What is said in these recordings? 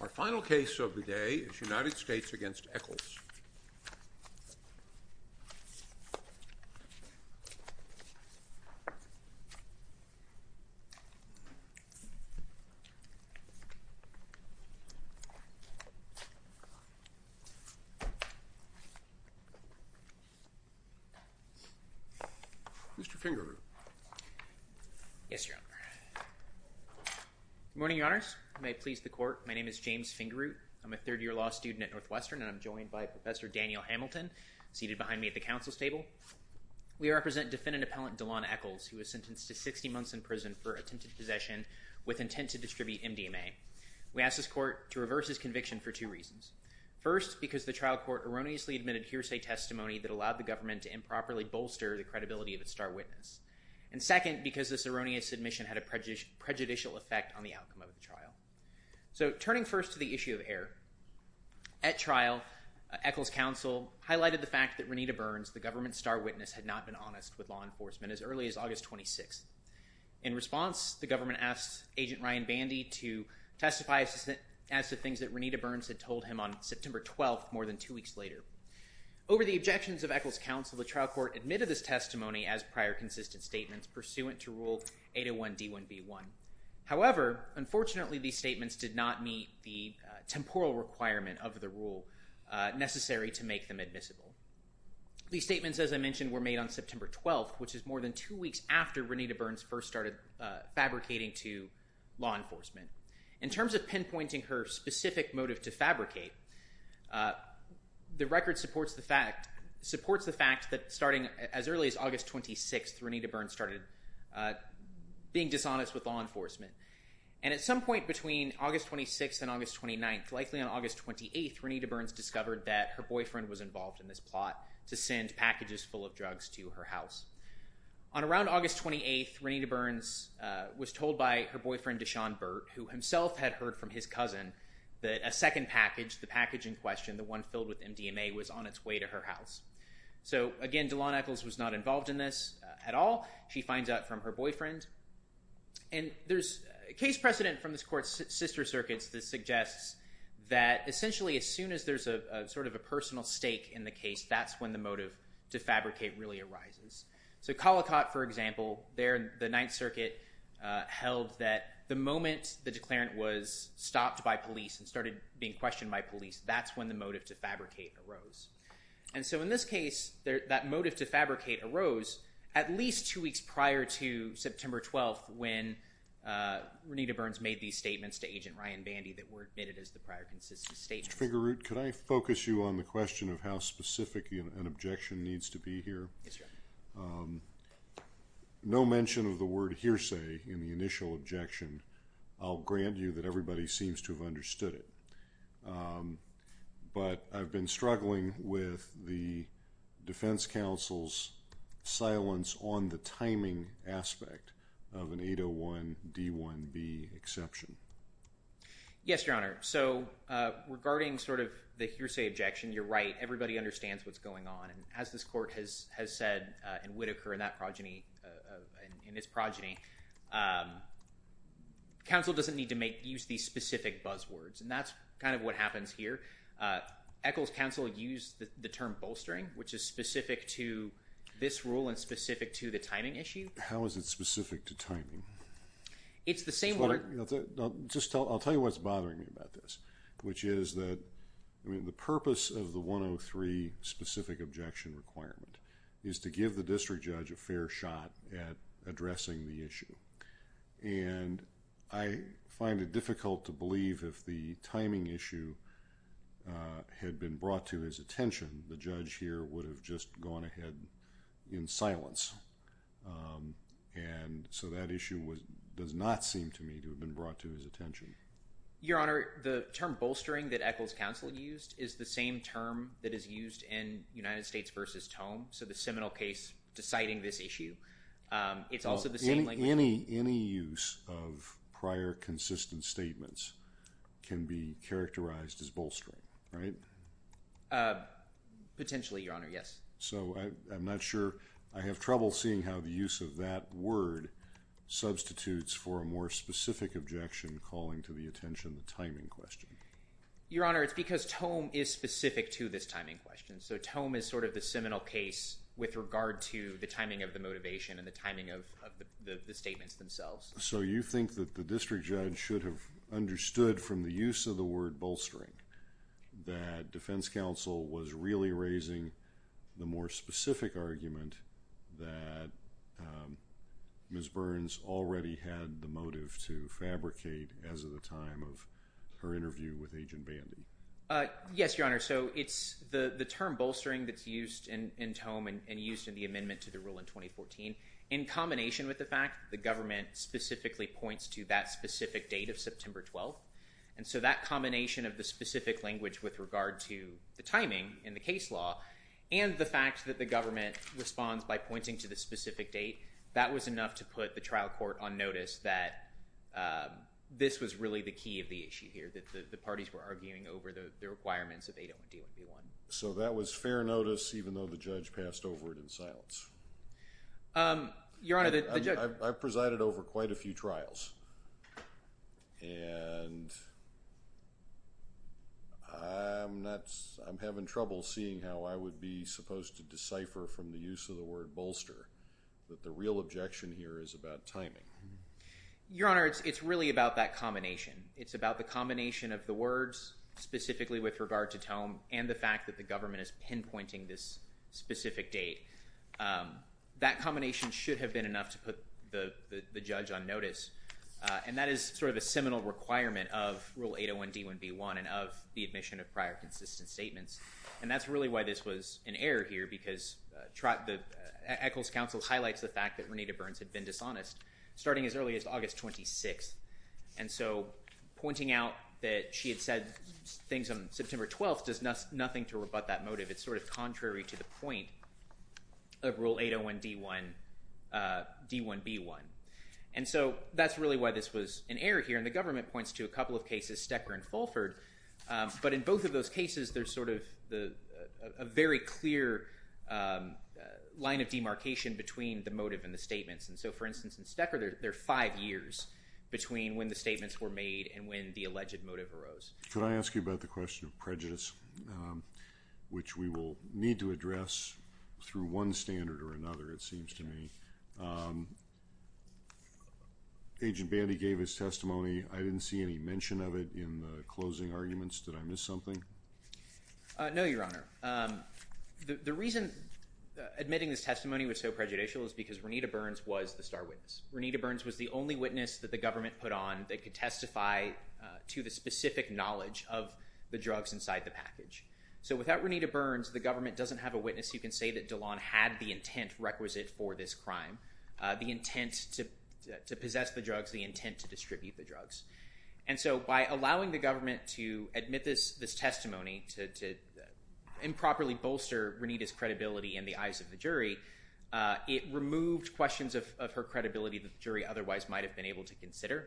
Our final case of the day is United States v. Echols. Mr. Fingerroot. Yes, Your Honor. Good morning, Your Honors. May it please the Court, my name is James Fingerroot. I'm a third-year law student at Northwestern, and I'm joined by Professor Daniel Hamilton, seated behind me at the Council's table. We represent defendant-appellant Delon Echols, who was sentenced to 60 months in prison for attempted possession with intent to distribute MDMA. We ask this Court to reverse his conviction for two reasons. First, because the trial court erroneously admitted hearsay testimony that allowed the government to improperly bolster the credibility of its star witness. And second, because this erroneous admission had a prejudicial effect on the outcome of the trial. So, turning first to the issue of error. At trial, Echols' counsel highlighted the fact that Renita Burns, the government's star witness, had not been honest with law enforcement as early as August 26th. In response, the government asked Agent Ryan Bandy to testify as to things that Renita Burns had told him on September 12th, more than two weeks later. Over the objections of Echols' counsel, the trial court admitted this testimony as prior consistent statements pursuant to Rule 801D1B1. However, unfortunately, these statements did not meet the temporal requirement of the rule necessary to make them admissible. These statements, as I mentioned, were made on September 12th, which is more than two weeks after Renita Burns first started fabricating to law enforcement. In terms of pinpointing her specific motive to fabricate, the record supports the fact that starting as early as August 26th, Renita Burns started being dishonest with law enforcement. And at some point between August 26th and August 29th, likely on August 28th, Renita Burns discovered that her boyfriend was involved in this plot to send packages full of drugs to her house. On around August 28th, Renita Burns was told by her boyfriend Deshaun Burt, who himself had heard from his cousin, that a second package, the package in question, the one filled with MDMA, was on its way to her house. So, again, Delaunay Echols was not involved in this at all. She finds out from her boyfriend. And there's a case precedent from this court's sister circuits that suggests that essentially as soon as there's sort of a personal stake in the case, that's when the motive to fabricate really arises. So Collicott, for example, there in the Ninth Circuit held that the moment the declarant was stopped by police and started being questioned by police, that's when the motive to fabricate arose. And so in this case, that motive to fabricate arose at least two weeks prior to September 12th when Renita Burns made these statements to Agent Ryan Bandy that were admitted as the prior consistent statements. Mr. Fingerroot, could I focus you on the question of how specific an objection needs to be here? Yes, Your Honor. No mention of the word hearsay in the initial objection. I'll grant you that everybody seems to have understood it. But I've been struggling with the defense counsel's silence on the timing aspect of an 801 D1B exception. Yes, Your Honor. So regarding sort of the hearsay objection, you're right. Everybody understands what's going on. As this court has said in Whitaker in that progeny, in its progeny, counsel doesn't need to use these specific buzzwords. And that's kind of what happens here. Echols counsel used the term bolstering, which is specific to this rule and specific to the timing issue. How is it specific to timing? It's the same word. I'll tell you what's bothering me about this, which is that the purpose of the 103 specific objection requirement is to give the district judge a fair shot at addressing the issue. And I find it difficult to believe if the timing issue had been brought to his attention, the judge here would have just gone ahead in silence. And so that issue does not seem to me to have been brought to his attention. Your Honor, the term bolstering that Echols counsel used is the same term that is used in United States v. Tome. So the seminal case deciding this issue, it's also the same language. Any use of prior consistent statements can be characterized as bolstering, right? Potentially, Your Honor, yes. So I'm not sure. I have trouble seeing how the use of that word substitutes for a more specific objection calling to the attention the timing question. Your Honor, it's because Tome is specific to this timing question. So Tome is sort of the seminal case with regard to the timing of the motivation and the timing of the statements themselves. So you think that the district judge should have understood from the use of the word bolstering that defense counsel was really raising the more specific argument that Ms. Burns already had the motive to fabricate as of the time of her interview with Agent Bandy? Yes, Your Honor. So it's the term bolstering that's used in Tome and used in the amendment to the rule in 2014 in combination with the fact that the government specifically points to that specific date of September 12th. And so that combination of the specific language with regard to the timing in the case law and the fact that the government responds by pointing to the specific date, that was enough to put the trial court on notice that this was really the key of the issue here, that the parties were arguing over the requirements of 801D1B1. So that was fair notice even though the judge passed over it in silence? Your Honor, the judge— that the real objection here is about timing? Your Honor, it's really about that combination. It's about the combination of the words specifically with regard to Tome and the fact that the government is pinpointing this specific date. That combination should have been enough to put the judge on notice. And that is sort of a seminal requirement of Rule 801D1B1 and of the admission of prior consistent statements. And that's really why this was an error here because the Eccles Council highlights the fact that Renita Burns had been dishonest starting as early as August 26th. And so pointing out that she had said things on September 12th does nothing to rebut that motive. It's sort of contrary to the point of Rule 801D1B1. And so that's really why this was an error here, and the government points to a couple of cases, Stecker and Fulford. But in both of those cases, there's sort of a very clear line of demarcation between the motive and the statements. And so, for instance, in Stecker, there are five years between when the statements were made and when the alleged motive arose. Could I ask you about the question of prejudice, which we will need to address through one standard or another, it seems to me. Agent Bandy gave his testimony. I didn't see any mention of it in the closing arguments. Did I miss something? No, Your Honor. The reason admitting this testimony was so prejudicial is because Renita Burns was the star witness. Renita Burns was the only witness that the government put on that could testify to the specific knowledge of the drugs inside the package. So without Renita Burns, the government doesn't have a witness who can say that Delon had the intent requisite for this crime, the intent to possess the drugs, the intent to distribute the drugs. And so by allowing the government to admit this testimony to improperly bolster Renita's credibility in the eyes of the jury, it removed questions of her credibility that the jury otherwise might have been able to consider.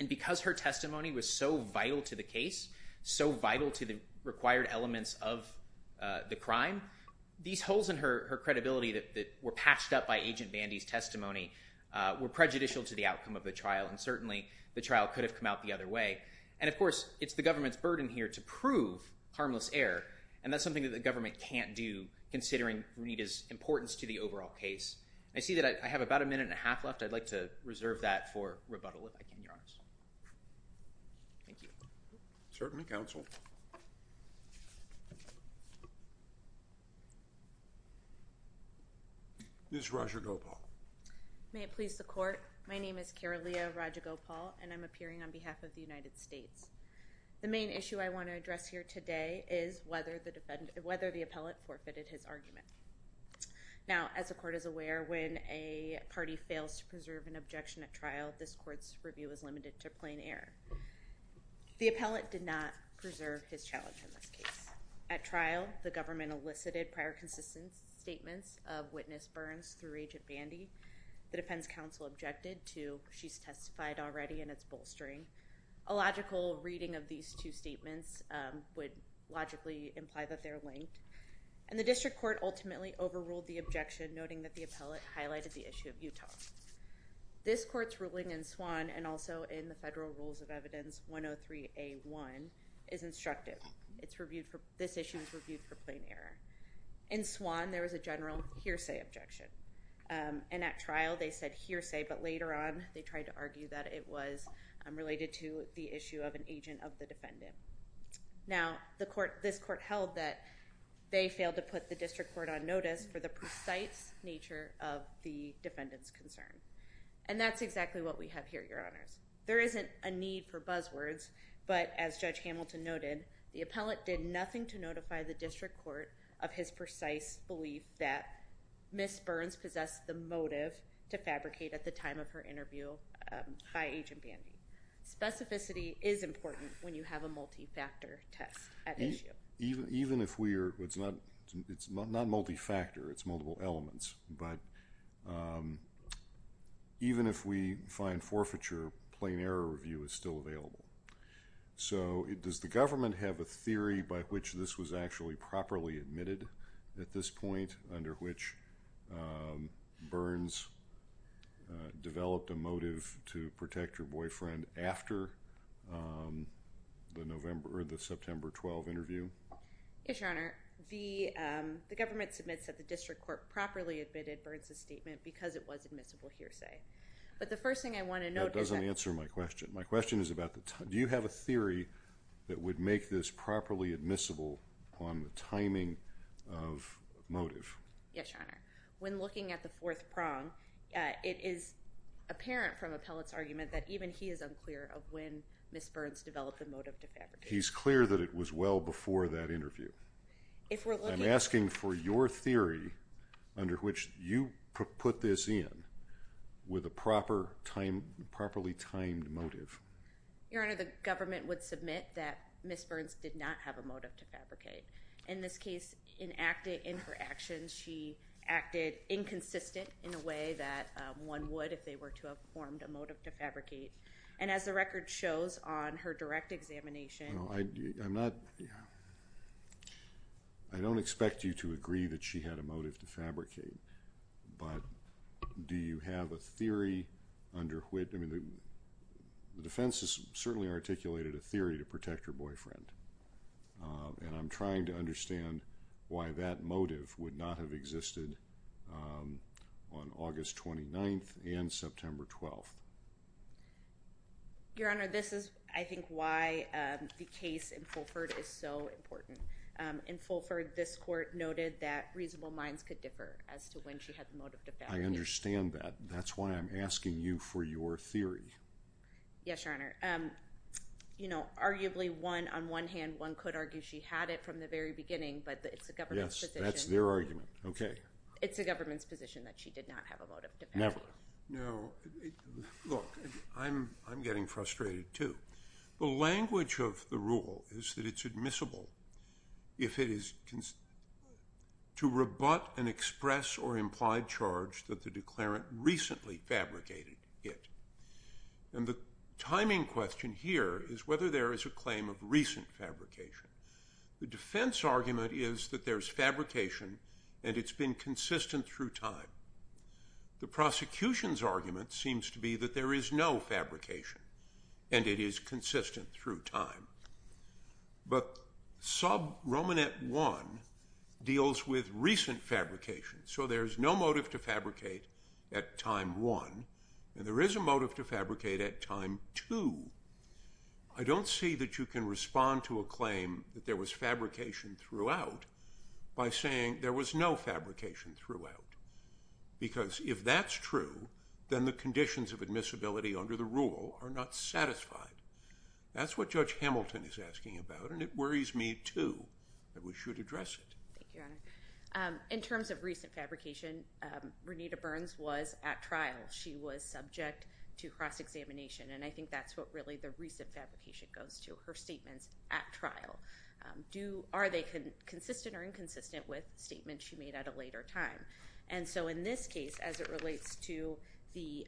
And because her testimony was so vital to the case, so vital to the required elements of the crime, these holes in her credibility that were patched up by Agent Bandy's testimony were prejudicial to the outcome of the trial, and certainly the trial could have come out the other way. And, of course, it's the government's burden here to prove harmless error, and that's something that the government can't do considering Renita's importance to the overall case. I see that I have about a minute and a half left. I'd like to reserve that for rebuttal if I can, Your Honors. Thank you. Certainly, Counsel. Ms. Rajagopal. May it please the Court. My name is Karalea Rajagopal, and I'm appearing on behalf of the United States. The main issue I want to address here today is whether the defendant – whether the appellate forfeited his argument. Now, as the Court is aware, when a party fails to preserve an objection at trial, this Court's review is limited to plain error. The appellate did not preserve his challenge in this case. At trial, the government elicited prior consistent statements of witness burns through Agent Bandy. The defense counsel objected to, she's testified already and it's bolstering. A logical reading of these two statements would logically imply that they're linked. And the District Court ultimately overruled the objection, noting that the appellate highlighted the issue of Utah. This Court's ruling in Swann and also in the Federal Rules of Evidence 103A1 is instructive. It's reviewed for – this issue is reviewed for plain error. In Swann, there was a general hearsay objection. And at trial, they said hearsay, but later on, they tried to argue that it was related to the issue of an agent of the defendant. Now, the Court – this Court held that they failed to put the District Court on notice for the precise nature of the defendant's concern. And that's exactly what we have here, Your Honors. There isn't a need for buzzwords, but as Judge Hamilton noted, the appellate did nothing to notify the District Court of his precise belief that Ms. Burns possessed the motive to fabricate at the time of her interview by Agent Bandy. Specificity is important when you have a multi-factor test at issue. Even if we are – it's not multi-factor. It's multiple elements. But even if we find forfeiture, plain error review is still available. So does the government have a theory by which this was actually properly admitted at this point, under which Burns developed a motive to protect her boyfriend after the September 12 interview? Yes, Your Honor. The government submits that the District Court properly admitted Burns' statement because it was admissible hearsay. But the first thing I want to note is that – That doesn't answer my question. My question is about the – do you have a theory that would make this properly admissible on the timing of motive? Yes, Your Honor. When looking at the fourth prong, it is apparent from appellate's argument that even he is unclear of when Ms. Burns developed the motive to fabricate. He's clear that it was well before that interview. If we're looking – I'm asking for your theory under which you put this in with a properly timed motive. Your Honor, the government would submit that Ms. Burns did not have a motive to fabricate. In this case, in her actions, she acted inconsistent in a way that one would if they were to have formed a motive to fabricate. And as the record shows on her direct examination – I'm not – I don't expect you to agree that she had a motive to fabricate. But do you have a theory under which – I mean the defense has certainly articulated a theory to protect her boyfriend. And I'm trying to understand why that motive would not have existed on August 29th and September 12th. Your Honor, this is, I think, why the case in Fulford is so important. In Fulford, this court noted that reasonable minds could differ as to when she had the motive to fabricate. I understand that. That's why I'm asking you for your theory. Yes, Your Honor. You know, arguably one – on one hand, one could argue she had it from the very beginning, but it's the government's position. Yes, that's their argument. Okay. It's the government's position that she did not have a motive to fabricate. Never. No. Look, I'm getting frustrated, too. The language of the rule is that it's admissible if it is to rebut an express or implied charge that the declarant recently fabricated it. And the timing question here is whether there is a claim of recent fabrication. The defense argument is that there's fabrication and it's been consistent through time. The prosecution's argument seems to be that there is no fabrication and it is consistent through time. But sub-Romanet 1 deals with recent fabrication, so there's no motive to fabricate at time 1, and there is a motive to fabricate at time 2. I don't see that you can respond to a claim that there was fabrication throughout by saying there was no fabrication throughout, because if that's true, then the conditions of admissibility under the rule are not satisfied. That's what Judge Hamilton is asking about, and it worries me, too, that we should address it. Thank you, Your Honor. In terms of recent fabrication, Renita Burns was at trial. She was subject to cross-examination, and I think that's what really the recent fabrication goes to, her statements at trial. Are they consistent or inconsistent with statements she made at a later time? And so in this case, as it relates to the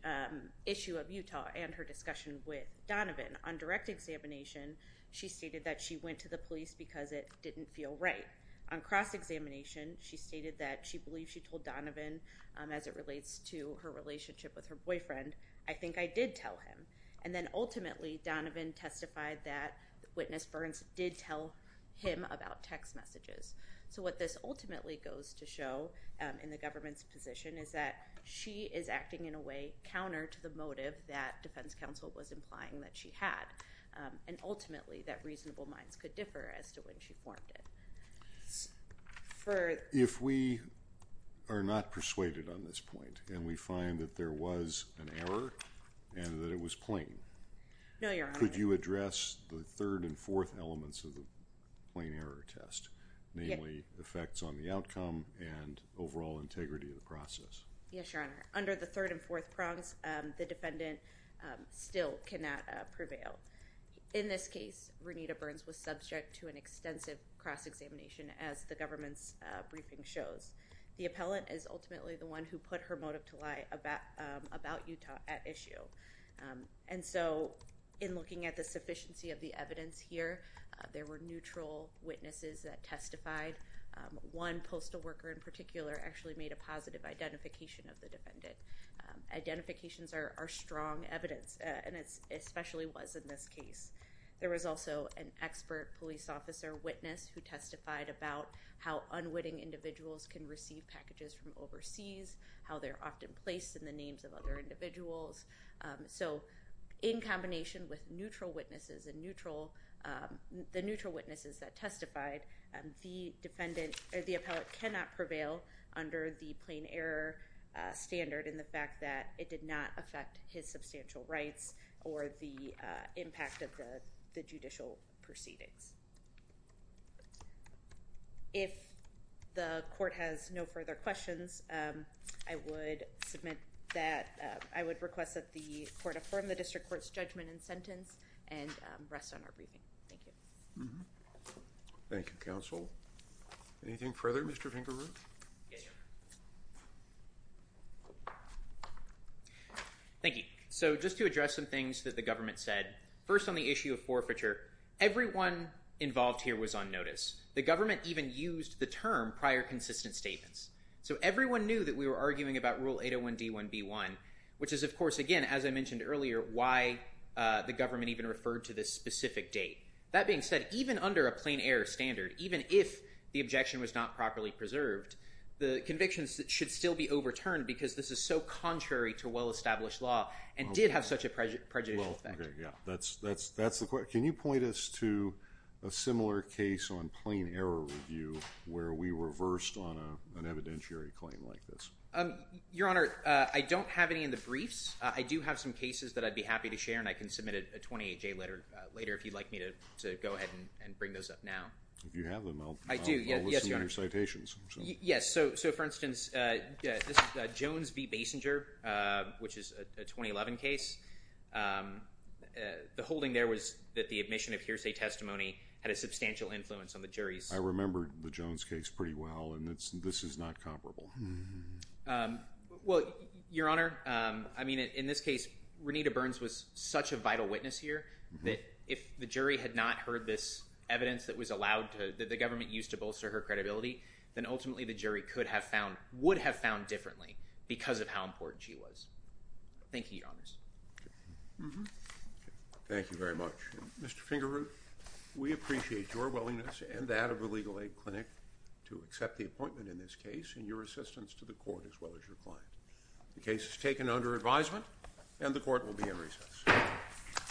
issue of Utah and her discussion with Donovan, on direct examination, she stated that she went to the police because it didn't feel right. On cross-examination, she stated that she believed she told Donovan, as it relates to her relationship with her boyfriend, I think I did tell him, and then ultimately Donovan testified that witness Burns did tell him about text messages. So what this ultimately goes to show in the government's position is that she is acting in a way counter to the motive that reasonable minds could differ as to when she formed it. If we are not persuaded on this point and we find that there was an error and that it was plain, could you address the third and fourth elements of the plain error test, namely effects on the outcome and overall integrity of the process? Yes, Your Honor. Under the third and fourth prongs, the defendant still cannot prevail. In this case, Renita Burns was subject to an extensive cross-examination, as the government's briefing shows. The appellant is ultimately the one who put her motive to lie about Utah at issue. And so in looking at the sufficiency of the evidence here, there were neutral witnesses that testified. One postal worker in particular actually made a positive identification of the defendant. Identifications are strong evidence, and it especially was in this case. There was also an expert police officer witness who testified about how unwitting individuals can receive packages from overseas, how they're often placed in the names of other individuals. So in combination with neutral witnesses and the neutral witnesses that testified, the defendant or the appellant cannot prevail under the plain error standard in the fact that it did not affect his substantial rights or the impact of the judicial proceedings. If the court has no further questions, I would request that the court affirm the district court's judgment and sentence and rest on our briefing. Thank you. Thank you, counsel. Anything further, Mr. Fingerroot? Yes, Your Honor. Thank you. So just to address some things that the government said. First on the issue of forfeiture, everyone involved here was on notice. The government even used the term prior consistent statements. So everyone knew that we were arguing about Rule 801D1B1, which is, of course, again, as I mentioned earlier, why the government even referred to this specific date. That being said, even under a plain error standard, even if the objection was not properly preserved, the convictions should still be overturned because this is so contrary to well-established law and did have such a prejudicial effect. Okay, yeah. That's the question. Can you point us to a similar case on plain error review where we reversed on an evidentiary claim like this? Your Honor, I don't have any in the briefs. I do have some cases that I'd be happy to share, and I can submit a 28-J letter later if you'd like me to go ahead and bring those up now. If you have them, I'll listen to your citations. Yes. So, for instance, this is Jones v. Basinger, which is a 2011 case. The holding there was that the admission of hearsay testimony had a substantial influence on the jury's. I remember the Jones case pretty well, and this is not comparable. Well, Your Honor, I mean, in this case, Renita Burns was such a vital witness here that if the jury had not heard this evidence that the government used to bolster her credibility, then ultimately the jury would have found differently because of how important she was. Thank you, Your Honors. Thank you very much. Mr. Fingerroot, we appreciate your willingness and that of the Legal Aid Clinic to accept the appointment in this case and your assistance to the court as well as your client. The case is taken under advisement, and the court will be in recess.